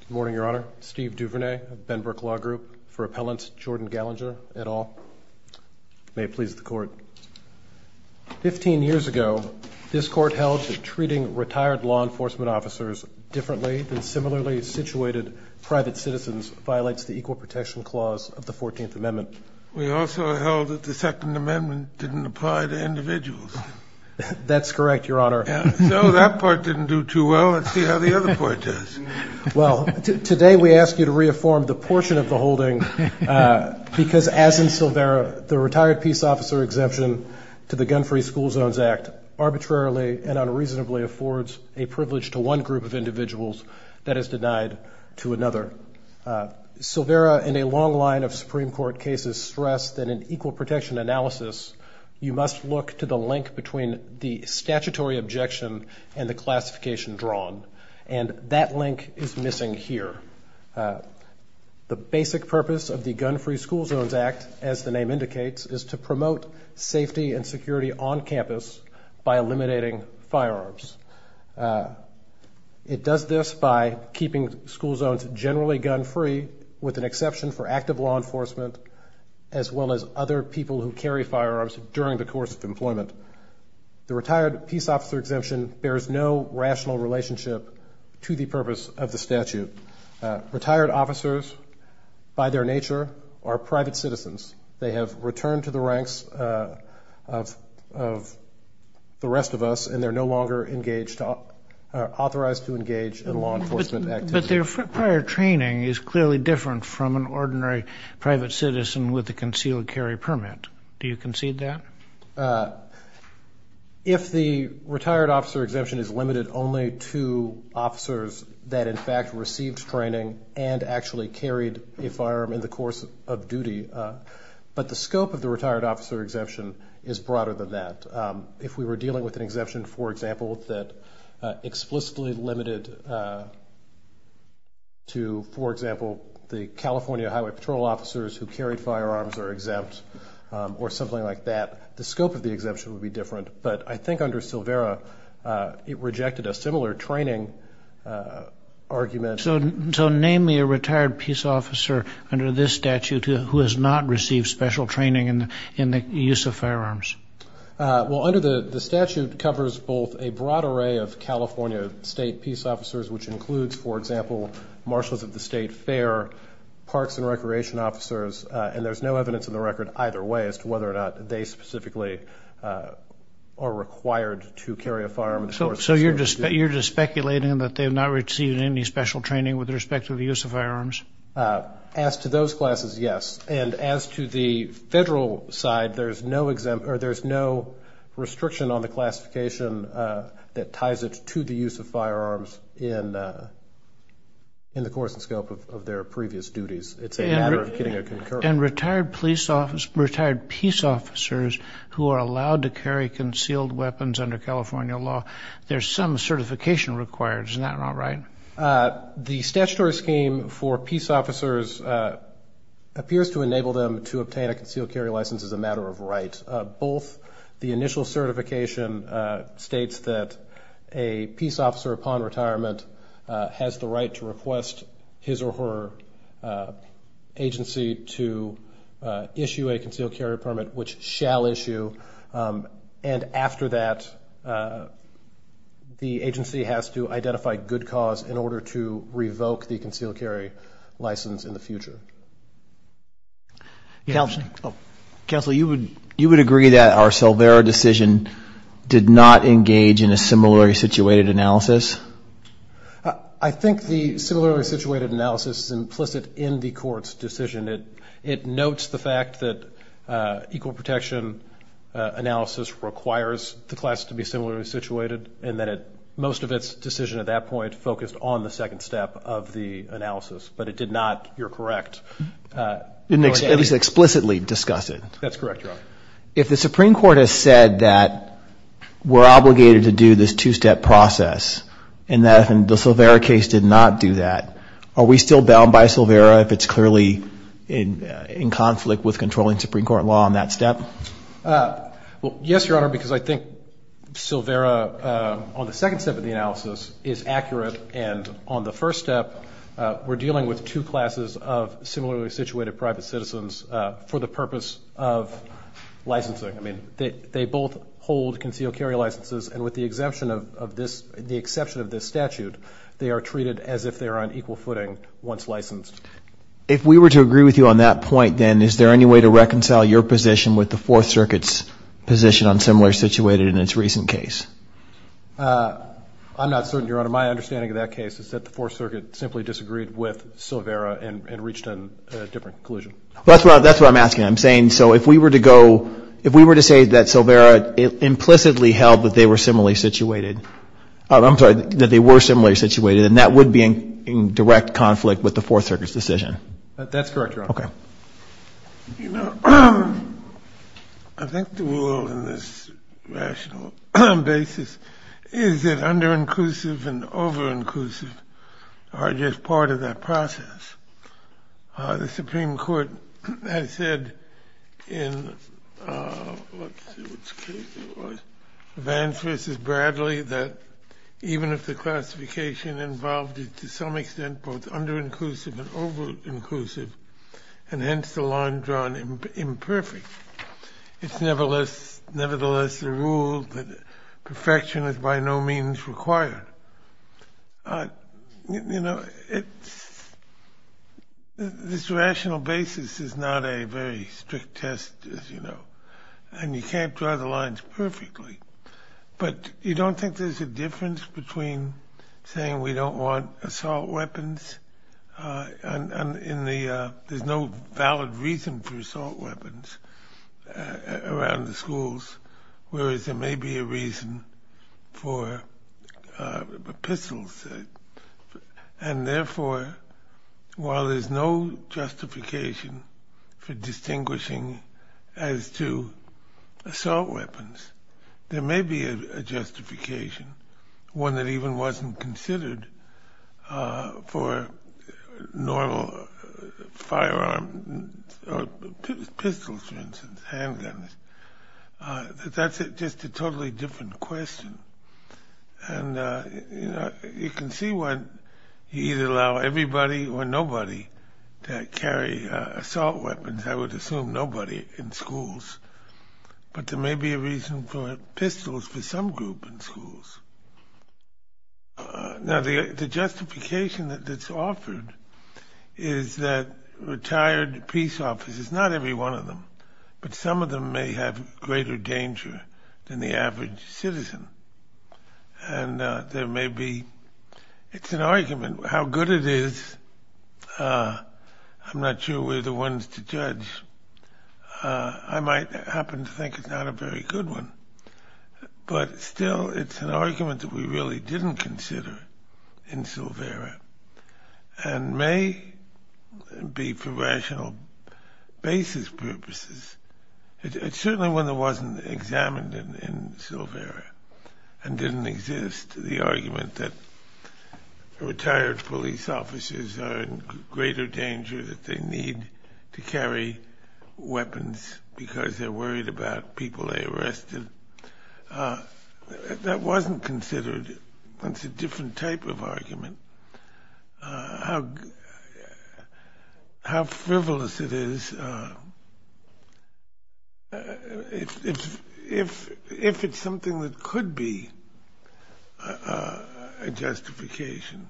Good morning, Your Honor. Steve Duvernay, Benbrook Law Group, for Appellant Jordan Gallinger, et al. May it please the Court. Fifteen years ago, this Court held that treating retired law enforcement officers differently than similarly situated private citizens violates the Equal Protection Clause of the Fourteenth Amendment. We also held that the Second Amendment didn't apply to individuals. That's correct, Your Honor. No, that part didn't do too well. Let's see how the other part does. Well, today we ask you to reaffirm the portion of the holding because, as in Silvera, the retired peace officer exemption to the Gun-Free School Zones Act arbitrarily and unreasonably affords a privilege to one group of individuals that is denied to another. Silvera, in a long line of Supreme Court cases, stressed that in equal protection analysis, you must look to the link between the statutory objection and the classification drawn. And that link is missing here. The basic purpose of the Gun-Free School Zones Act, as the name indicates, is to promote safety and security on campus by eliminating firearms. It does this by keeping school zones generally gun-free, with an exception for active law enforcement, as well as other people who carry firearms during the course of employment. The retired peace officer exemption bears no rational relationship to the purpose of the statute. Retired officers, by their nature, are private citizens. They have returned to the ranks of the rest of us, and they're no longer authorized to engage in law enforcement activity. But their prior training is clearly different from an ordinary private citizen with a concealed carry permit. Do you concede that? If the retired officer exemption is limited only to officers that, in fact, received training and actually carried a firearm in the course of duty, but the scope of the retired officer exemption is broader than that. If we were dealing with an exemption, for example, that explicitly limited to, for example, the California Highway Patrol officers who carried firearms are exempt or something like that, the scope of the exemption would be different. But I think under Silvera, it rejected a similar training argument. So name me a retired peace officer under this statute who has not received special training in the use of firearms. Well, under the statute covers both a broad array of California state peace officers, which includes, for example, marshals of the state fair, parks and recreation officers, and there's no evidence in the record either way as to whether or not they specifically are required to carry a firearm. So you're just speculating that they have not received any special training with respect to the use of firearms? As to those classes, yes. And as to the federal side, there's no exemption or there's no restriction on the classification that ties it to the use of firearms in the course and scope of their previous duties. It's a matter of getting a concurrence. And retired police officers, retired peace officers who are allowed to carry concealed weapons under California law, there's some certification required. Isn't that not right? The statutory scheme for peace officers appears to enable them to obtain a concealed carry license as a matter of right. The initial certification states that a peace officer upon retirement has the right to request his or her agency to issue a concealed carry permit, which shall issue. And after that, the agency has to identify good cause in order to revoke the concealed carry license in the future. Counsel, you would agree that our Silvera decision did not engage in a similarly situated analysis? I think the similarly situated analysis is implicit in the court's decision. It notes the fact that equal protection analysis requires the class to be similarly situated and that most of its decision at that point focused on the second step of the analysis, but it did not, you're correct. At least explicitly discuss it. That's correct, Your Honor. If the Supreme Court has said that we're obligated to do this two-step process and that the Silvera case did not do that, are we still bound by Silvera if it's clearly in conflict with controlling Supreme Court law on that step? Yes, Your Honor, because I think Silvera on the second step of the analysis is accurate, and on the first step we're dealing with two classes of similarly situated private citizens for the purpose of licensing. I mean, they both hold concealed carry licenses, and with the exception of this statute, they are treated as if they are on equal footing once licensed. If we were to agree with you on that point, then, is there any way to reconcile your position with the Fourth Circuit's position on similarly situated in its recent case? I'm not certain, Your Honor. My understanding of that case is that the Fourth Circuit simply disagreed with Silvera and reached a different conclusion. That's what I'm asking. I'm saying, so if we were to go, if we were to say that Silvera implicitly held that they were similarly situated, I'm sorry, that they were similarly situated, and that would be in direct conflict with the Fourth Circuit's decision. That's correct, Your Honor. Okay. You know, I think the rule in this rational basis is that underinclusive and overinclusive are just part of that process. The Supreme Court has said in, let's see which case it was, Vance v. Bradley, that even if the classification involved is to some extent both underinclusive and overinclusive, and hence the line drawn imperfect, it's nevertheless the rule that perfection is by no means required. You know, it's, this rational basis is not a very strict test, as you know, and you can't draw the lines perfectly, but you don't think there's a difference between saying we don't want assault weapons and in the, there's no valid reason for assault weapons around the schools, whereas there may be a reason for pistols. And therefore, while there's no justification for distinguishing as to assault weapons, there may be a justification, one that even wasn't considered for normal firearm, pistols for instance, handguns. That's just a totally different question. And, you know, you can see when you either allow everybody or nobody to carry assault weapons, I would assume nobody in schools, but there may be a reason for pistols for some group in schools. Now the justification that's offered is that retired peace officers, not every one of them, but some of them may have greater danger than the average citizen. And there may be, it's an argument. How good it is, I'm not sure we're the ones to judge. I might happen to think it's not a very good one, but still it's an argument that we really didn't consider in Silvera and may be for rational basis purposes. It's certainly one that wasn't examined in Silvera and didn't exist, the argument that retired police officers are in greater danger that they need to carry weapons because they're worried about people they arrested. That wasn't considered. That's a different type of argument. How frivolous it is, if it's something that could be a justification.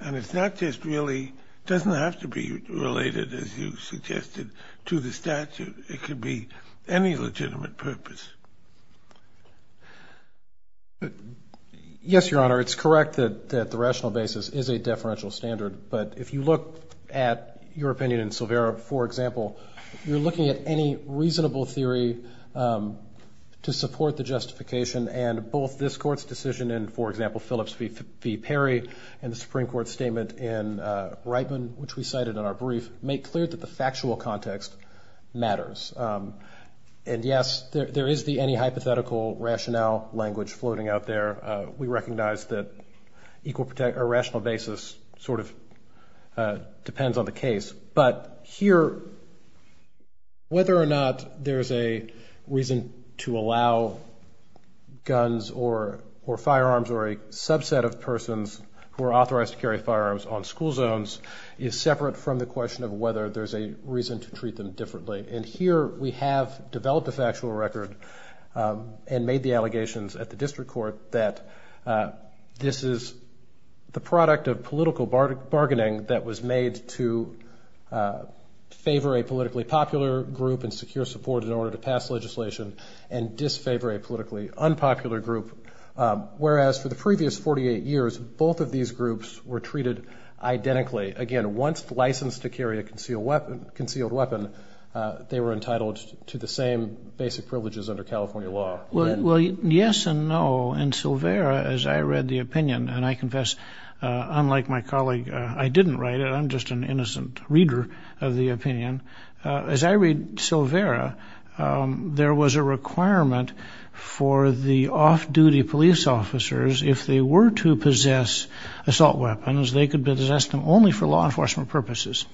And it's not just really, doesn't have to be related, as you suggested, to the statute. It could be any legitimate purpose. Yes, Your Honor, it's correct that the rational basis is a deferential standard, but if you look at your opinion in Silvera, for example, you're looking at any reasonable theory to support the justification and both this Court's decision in, for example, Phillips v. Perry and the Supreme Court's statement in Reitman, which we cited in our brief, make clear that the factual context matters. And yes, there is the any hypothetical rationale language floating out there. We recognize that a rational basis sort of depends on the case. But here, whether or not there's a reason to allow guns or firearms or a subset of persons who are authorized to carry firearms on school zones is separate from the question of whether there's a reason to treat them differently. And here we have developed a factual record and made the allegations at the district court that this is the product of political bargaining that was made to favor a politically popular group and secure support in order to pass legislation and disfavor a politically unpopular group. Whereas for the previous 48 years, both of these groups were treated identically. Again, once licensed to carry a concealed weapon, they were entitled to the same basic privileges under California law. Well, yes and no. In Silvera, as I read the opinion, and I confess, unlike my colleague, I didn't write it. I'm just an innocent reader of the opinion. As I read Silvera, there was a requirement for the off-duty police officers, if they were to possess assault weapons, they could possess them only for law enforcement purposes.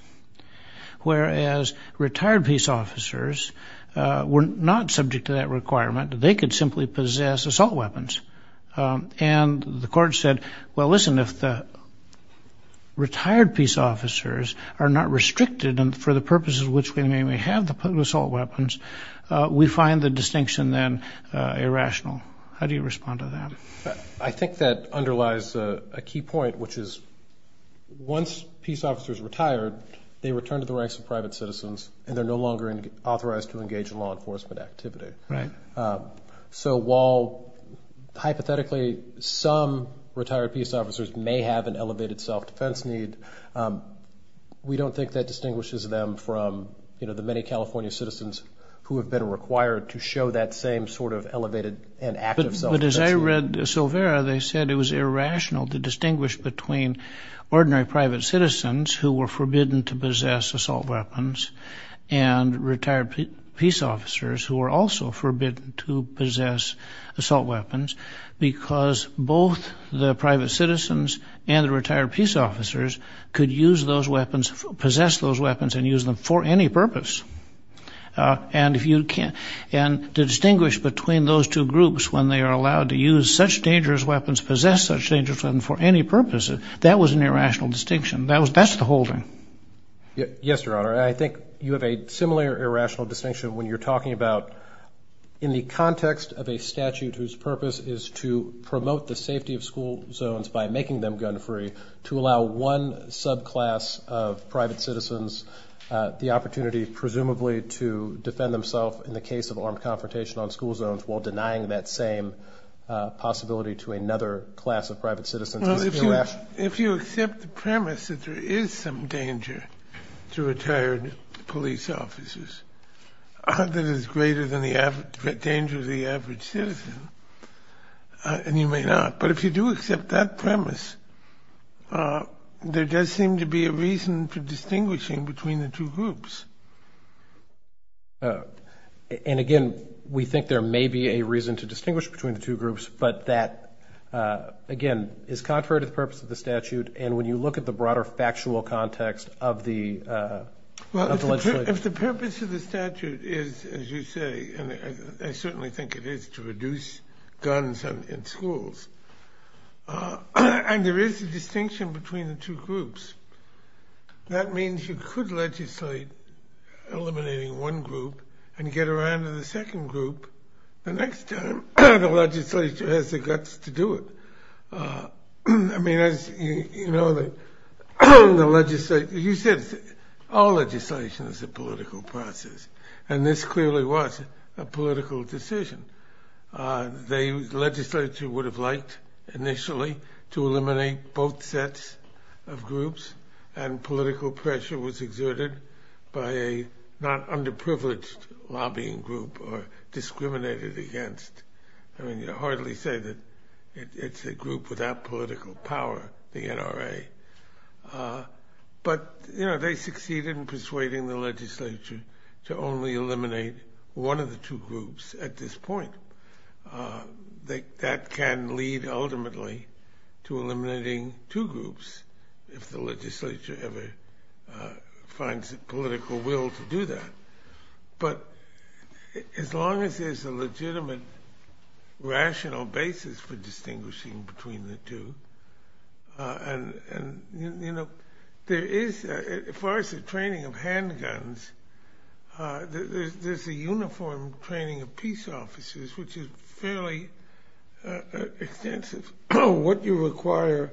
Whereas retired police officers were not subject to that requirement. They could simply possess assault weapons. And the court said, well, listen, if the retired peace officers are not restricted and for the purposes which we may have the assault weapons, we find the distinction then irrational. How do you respond to that? I think that underlies a key point, which is once peace officers retire, they return to the ranks of private citizens and they're no longer authorized to engage in law enforcement activity. So while, hypothetically, some retired peace officers may have an elevated self-defense need, we don't think that distinguishes them from the many California citizens who have been required to show that same sort of elevated and active self-defense need. But as I read Silvera, they said it was irrational to distinguish between ordinary private citizens who were forbidden to possess assault weapons and retired peace officers who were also forbidden to possess assault weapons because both the private citizens and the retired peace officers could use those weapons, possess those weapons and use them for any purpose. And to distinguish between those two groups when they are allowed to use such dangerous weapons, possess such dangerous weapons for any purpose, that was an irrational distinction. That's the whole thing. Yes, Your Honor. I think you have a similar irrational distinction when you're talking about in the context of a statute whose purpose is to promote the safety of school zones by making them gun-free, to allow one subclass of private citizens the opportunity, presumably, to defend themselves in the case of armed confrontation on school zones while denying that same possibility to another class of private citizens. Well, if you accept the premise that there is some danger to retired police officers that is greater than the danger of the average citizen, and you may not, but if you do accept that premise, there does seem to be a reason for distinguishing between the two groups. And, again, we think there may be a reason to distinguish between the two groups, but that, again, is contrary to the purpose of the statute, and when you look at the broader factual context of the legislation. Well, if the purpose of the statute is, as you say, and I certainly think it is to reduce guns in schools, and there is a distinction between the two groups, that means you could legislate eliminating one group and get around to the second group. The next time, the legislature has the guts to do it. I mean, as you know, all legislation is a political process, and this clearly was a political decision. The legislature would have liked, initially, to eliminate both sets of groups, and political pressure was exerted by a not underprivileged lobbying group or discriminated against. I mean, you hardly say that it's a group without political power, the NRA. But, you know, they succeeded in persuading the legislature to only eliminate one of the two groups at this point. That can lead, ultimately, to eliminating two groups if the legislature ever finds the political will to do that. But as long as there's a legitimate, rational basis for distinguishing between the two, and, you know, there is, as far as the training of handguns, there's a uniform training of peace officers, which is fairly extensive. What you require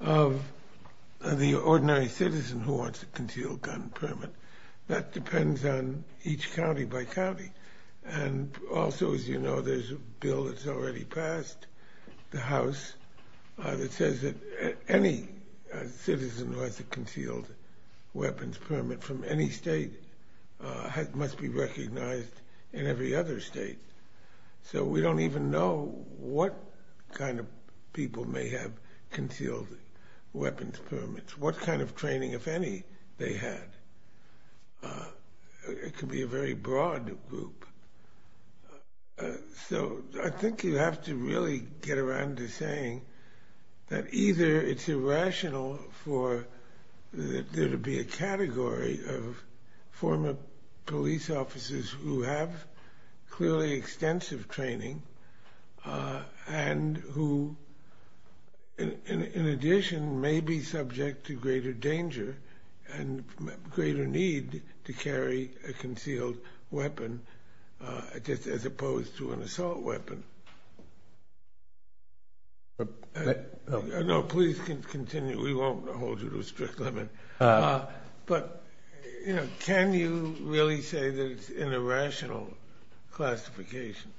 of the ordinary citizen who wants a concealed gun permit, that depends on each county by county. And also, as you know, there's a bill that's already passed, the House, that says that any citizen who has a concealed weapons permit from any state must be recognized in every other state. So we don't even know what kind of people may have concealed weapons permits, what kind of training, if any, they had. It could be a very broad group. So I think you have to really get around to saying that either it's irrational for there to be a category of former police officers who have clearly extensive training and who, in addition, may be subject to greater danger and greater need to carry a concealed weapon as opposed to an assault weapon. No, please continue. We won't hold you to a strict limit. But can you really say that it's an irrational classification?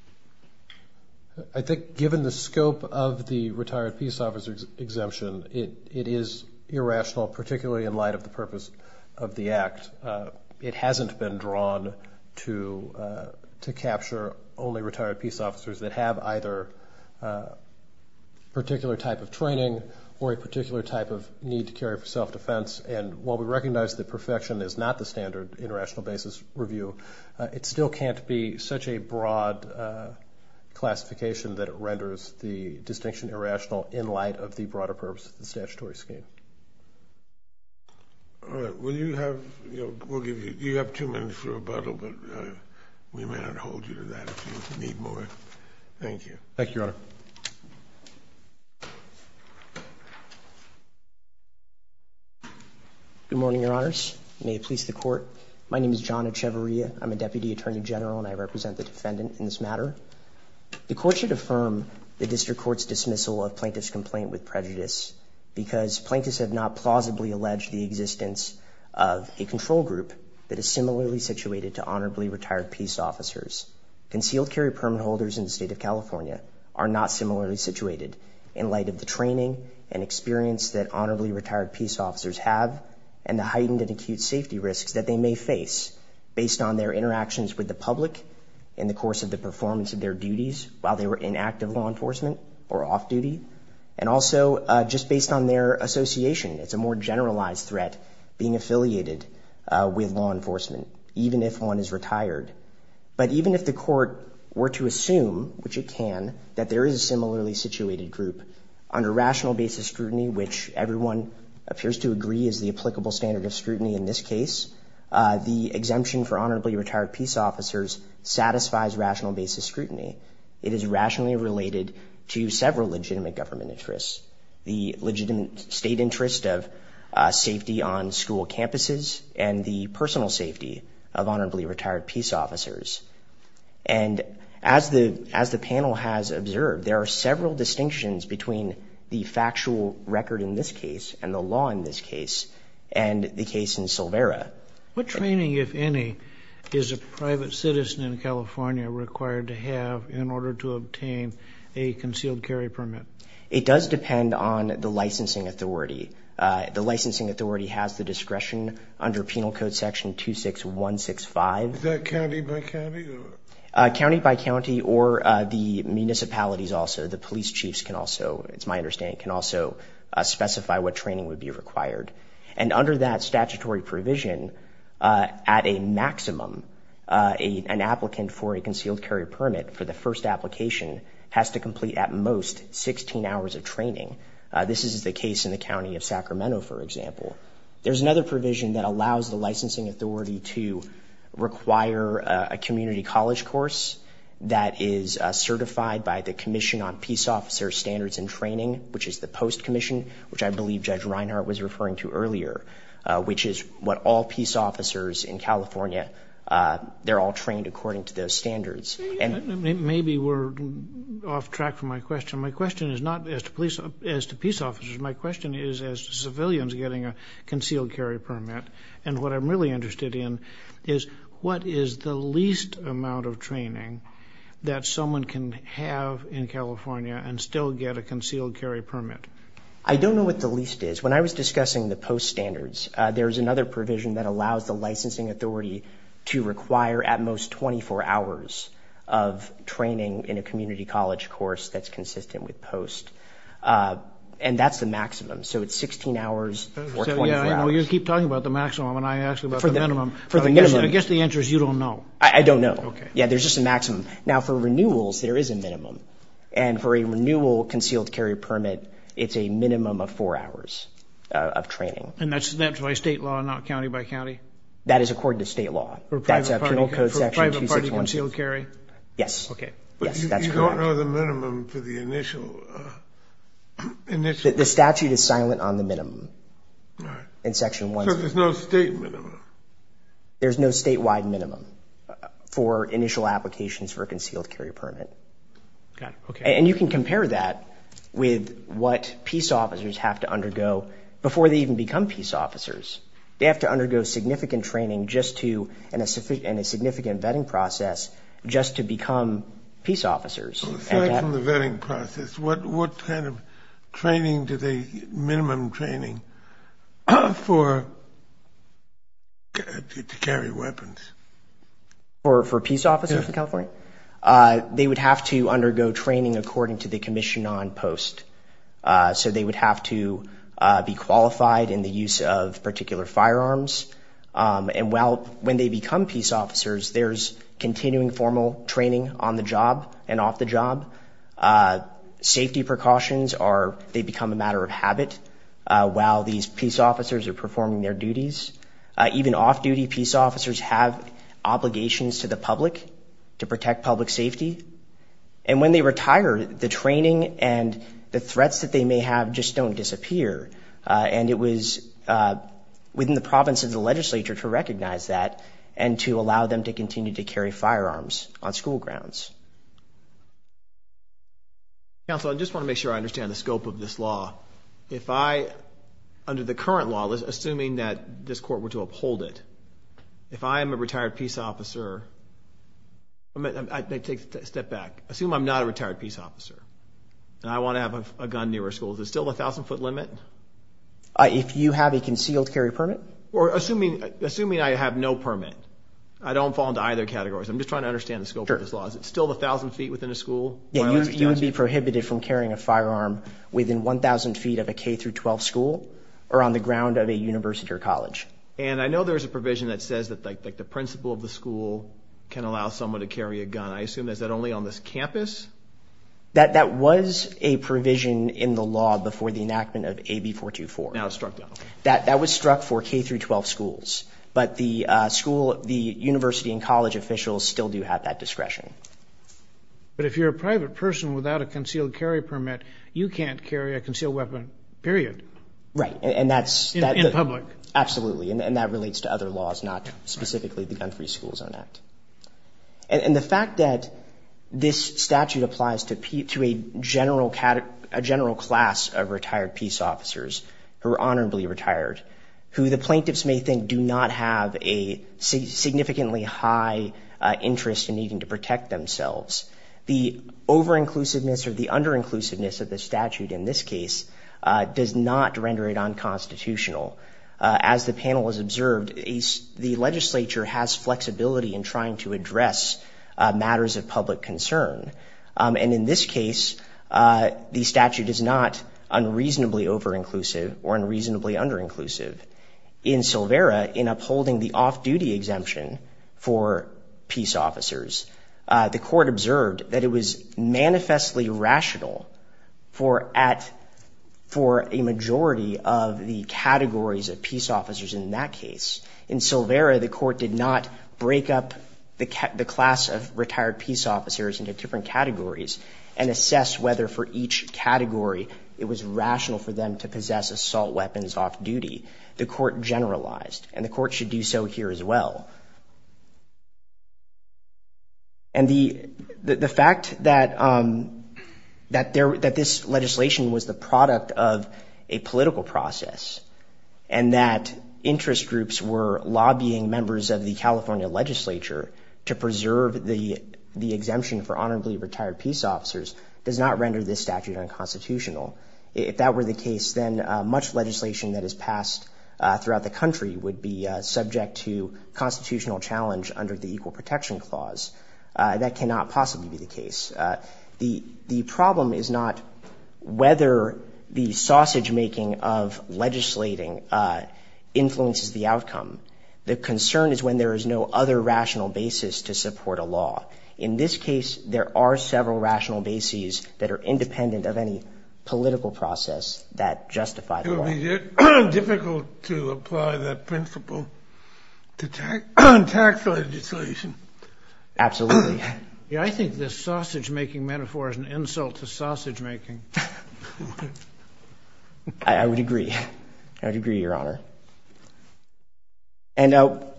I think given the scope of the retired peace officer exemption, it is irrational, particularly in light of the purpose of the act. It hasn't been drawn to capture only retired peace officers that have either a particular type of training or a particular type of need to carry for self-defense. And while we recognize that perfection is not the standard in rational basis review, it still can't be such a broad classification that it renders the distinction irrational in light of the broader purpose of the statutory scheme. All right. You have two minutes for rebuttal, but we may not hold you to that if you need more. Thank you. Thank you, Your Honor. Good morning, Your Honors. May it please the Court. My name is John Echevarria. I'm a Deputy Attorney General, and I represent the defendant in this matter. The Court should affirm the District Court's dismissal of plaintiff's complaint with prejudice because plaintiffs have not plausibly alleged the existence of a control group that is similarly situated to honorably retired peace officers. Concealed carry permit holders in the state of California are not similarly situated in light of the training and experience that honorably retired peace officers have and the heightened and acute safety risks that they may face based on their interactions with the public in the course of the performance of their duties while they were in active law enforcement or off duty, and also just based on their association. It's a more generalized threat being affiliated with law enforcement, even if one is retired. But even if the Court were to assume, which it can, that there is a similarly situated group, under rational basis scrutiny, which everyone appears to agree is the applicable standard of scrutiny in this case, the exemption for honorably retired peace officers satisfies rational basis scrutiny. It is rationally related to several legitimate government interests, the legitimate state interest of safety on school campuses and the personal safety of honorably retired peace officers. And as the panel has observed, there are several distinctions between the factual record in this case and the law in this case and the case in Silvera. What training, if any, is a private citizen in California required to have in order to obtain a concealed carry permit? It does depend on the licensing authority. The licensing authority has the discretion under Penal Code Section 26165. Is that county by county? County by county or the municipalities also. The police chiefs can also, it's my understanding, can also specify what training would be required. And under that statutory provision, at a maximum, an applicant for a concealed carry permit for the first application has to complete at most 16 hours of training. This is the case in the county of Sacramento, for example. There's another provision that allows the licensing authority to require a community college course that is certified by the Commission on Peace Officers Standards and Training, which is the post commission, which I believe Judge Reinhart was referring to earlier, which is what all peace officers in California, they're all trained according to those standards. Maybe we're off track from my question. My question is not as to peace officers. My question is as to civilians getting a concealed carry permit. And what I'm really interested in is what is the least amount of training that someone can have in California and still get a concealed carry permit? I don't know what the least is. When I was discussing the post standards, there's another provision that allows the licensing authority to require at most 24 hours of training in a community college course that's consistent with post. And that's the maximum. So it's 16 hours or 24 hours. You keep talking about the maximum, and I ask about the minimum. For the minimum. I guess the answer is you don't know. I don't know. Yeah, there's just a maximum. Now, for renewals, there is a minimum. And for a renewal concealed carry permit, it's a minimum of four hours of training. And that's by state law, not county by county? That is according to state law. For private party concealed carry? Yes. Okay. Yes, that's correct. But you don't know the minimum for the initial? The statute is silent on the minimum in Section 1. So there's no state minimum? There's no statewide minimum for initial applications for a concealed carry permit. Got it. Okay. And you can compare that with what peace officers have to undergo before they even become peace officers. They have to undergo significant training and a significant vetting process just to become peace officers. Aside from the vetting process, what kind of training do they get, minimum training, to carry weapons? For peace officers in California? Yes. They would have to undergo training according to the commission on post. So they would have to be qualified in the use of particular firearms. And when they become peace officers, there's continuing formal training on the job and off the job. Safety precautions are they become a matter of habit while these peace officers are performing their duties. Even off-duty peace officers have obligations to the public to protect public safety. And when they retire, the training and the threats that they may have just don't disappear. And it was within the province of the legislature to recognize that and to allow them to continue to carry firearms on school grounds. Counsel, I just want to make sure I understand the scope of this law. If I, under the current law, assuming that this court were to uphold it, if I am a retired peace officer, I take a step back. Assume I'm not a retired peace officer and I want to have a gun near our school. Is it still the 1,000-foot limit? If you have a concealed carry permit? Assuming I have no permit, I don't fall into either category. I'm just trying to understand the scope of this law. Is it still the 1,000 feet within a school? You would be prohibited from carrying a firearm within 1,000 feet of a K-12 school or on the ground of a university or college. And I know there's a provision that says that the principal of the school can allow someone to carry a gun. I assume that's only on this campus? That was a provision in the law before the enactment of AB 424. Now it's struck down. That was struck for K-12 schools. But the university and college officials still do have that discretion. But if you're a private person without a concealed carry permit, you can't carry a concealed weapon, period. Right. In public. Absolutely. And that relates to other laws, not specifically the Gun-Free Schools Act. And the fact that this statute applies to a general class of retired peace officers who are honorably retired, who the plaintiffs may think do not have a significantly high interest in needing to protect themselves, the over-inclusiveness or the under-inclusiveness of the statute in this case does not render it unconstitutional. As the panel has observed, the legislature has flexibility in trying to address matters of public concern. And in this case, the statute is not unreasonably over-inclusive or unreasonably under-inclusive. In Silvera, in upholding the off-duty exemption for peace officers, the court observed that it was manifestly rational for a majority of the categories of peace officers in that case. In Silvera, the court did not break up the class of retired peace officers into different categories and assess whether for each category it was rational for them to possess assault weapons off-duty. The court generalized. And the court should do so here as well. And the fact that this legislation was the product of a political process and that interest groups were lobbying members of the California legislature to preserve the exemption for honorably retired peace officers does not render this statute unconstitutional. If that were the case, then much legislation that is passed throughout the country would be subject to constitutional challenge under the Equal Protection Clause. That cannot possibly be the case. The problem is not whether the sausage-making of legislating influences the outcome. The concern is when there is no other rational basis to support a law. In this case, there are several rational bases that are independent of any political process that justify the law. It's difficult to apply that principle to tax legislation. Absolutely. Yeah, I think this sausage-making metaphor is an insult to sausage-making. I would agree. I would agree, Your Honor. And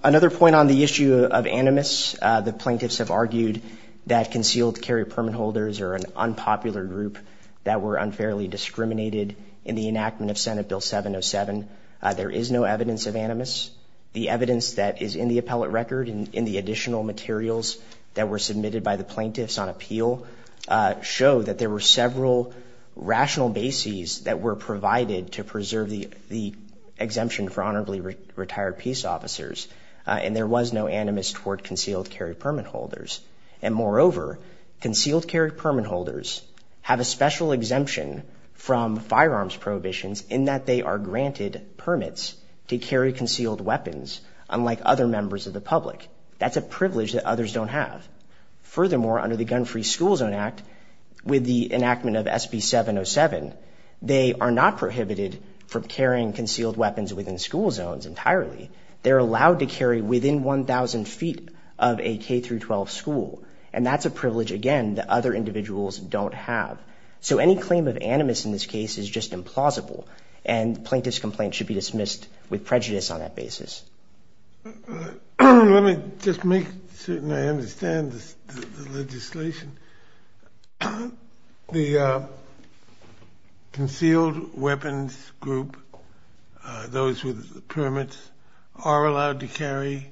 another point on the issue of animus, the plaintiffs have argued that concealed carry permit holders are an unpopular group that were unfairly discriminated in the enactment of Senate Bill 707. There is no evidence of animus. The evidence that is in the appellate record and in the additional materials that were submitted by the plaintiffs on appeal show that there were several rational bases that were provided to preserve the exemption for honorably retired peace officers, and there was no animus toward concealed carry permit holders. And moreover, concealed carry permit holders have a special exemption from firearms prohibitions in that they are granted permits to carry concealed weapons, unlike other members of the public. That's a privilege that others don't have. Furthermore, under the Gun-Free School Zone Act, with the enactment of SB 707, they are not prohibited from carrying concealed weapons within school zones entirely. They're allowed to carry within 1,000 feet of a K-12 school, and that's a privilege, again, that other individuals don't have. So any claim of animus in this case is just implausible, and the plaintiff's complaint should be dismissed with prejudice on that basis. Let me just make certain I understand the legislation. The concealed weapons group, those with the permits, are allowed to carry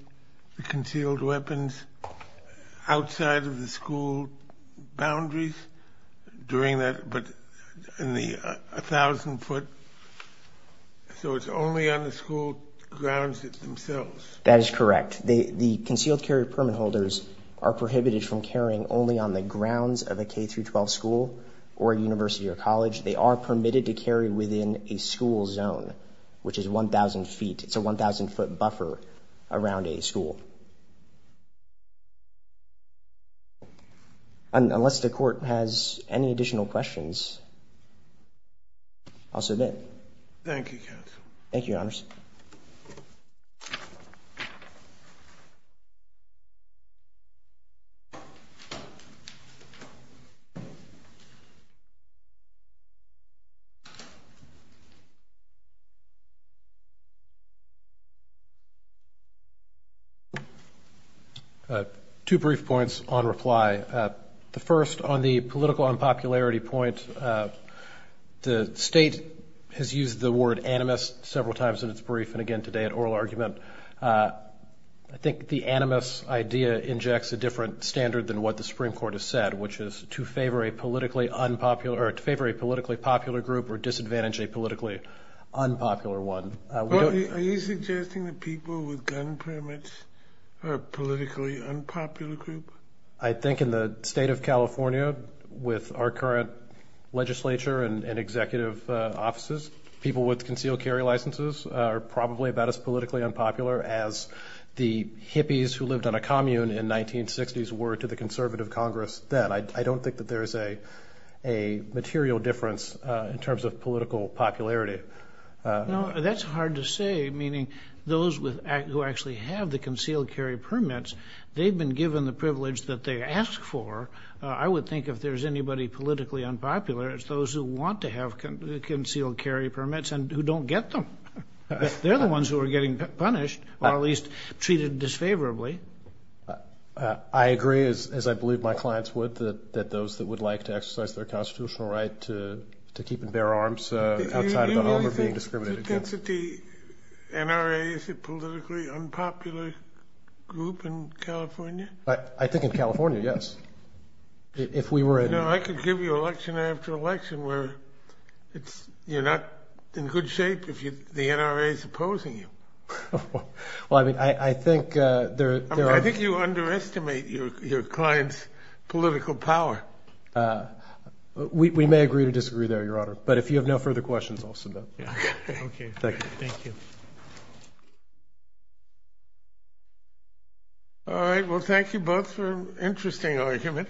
the concealed weapons outside of the school boundaries during that, but in the 1,000 foot, so it's only on the school grounds themselves. That is correct. The concealed carry permit holders are prohibited from carrying only on the grounds of a K-12 school or a university or college. They are permitted to carry within a school zone, which is 1,000 feet. It's a 1,000 foot buffer around a school. Unless the Court has any additional questions, I'll submit. Thank you, counsel. Thank you, Your Honors. Two brief points on reply. The first, on the political unpopularity point, the State has used the word animus several times in its brief and again today at oral argument. I think the animus idea injects a different standard than what the Supreme Court has said, which is to favor a politically popular group or disadvantage a politically unpopular one. Are you suggesting that people with gun permits are a politically unpopular group? I think in the State of California with our current legislature and executive offices people with concealed carry licenses are probably about as politically unpopular as the hippies who lived on a commune in the 1960s were to the conservative Congress then. I don't think that there is a material difference in terms of political popularity. No, that's hard to say, meaning those who actually have the concealed carry permits, they've been given the privilege that they ask for. I would think if there's anybody politically unpopular, it's those who want to have concealed carry permits and who don't get them. They're the ones who are getting punished or at least treated disfavorably. I agree, as I believe my clients would, that those that would like to exercise their constitutional right to keep and bear arms outside of the home are being discriminated against. Do you think that the NRA is a politically unpopular group in California? I think in California, yes. I could give you election after election where you're not in good shape if the NRA is opposing you. I think you underestimate your client's political power. We may agree to disagree there, Your Honor, but if you have no further questions I'll submit. Thank you. All right, well thank you both for an interesting argument.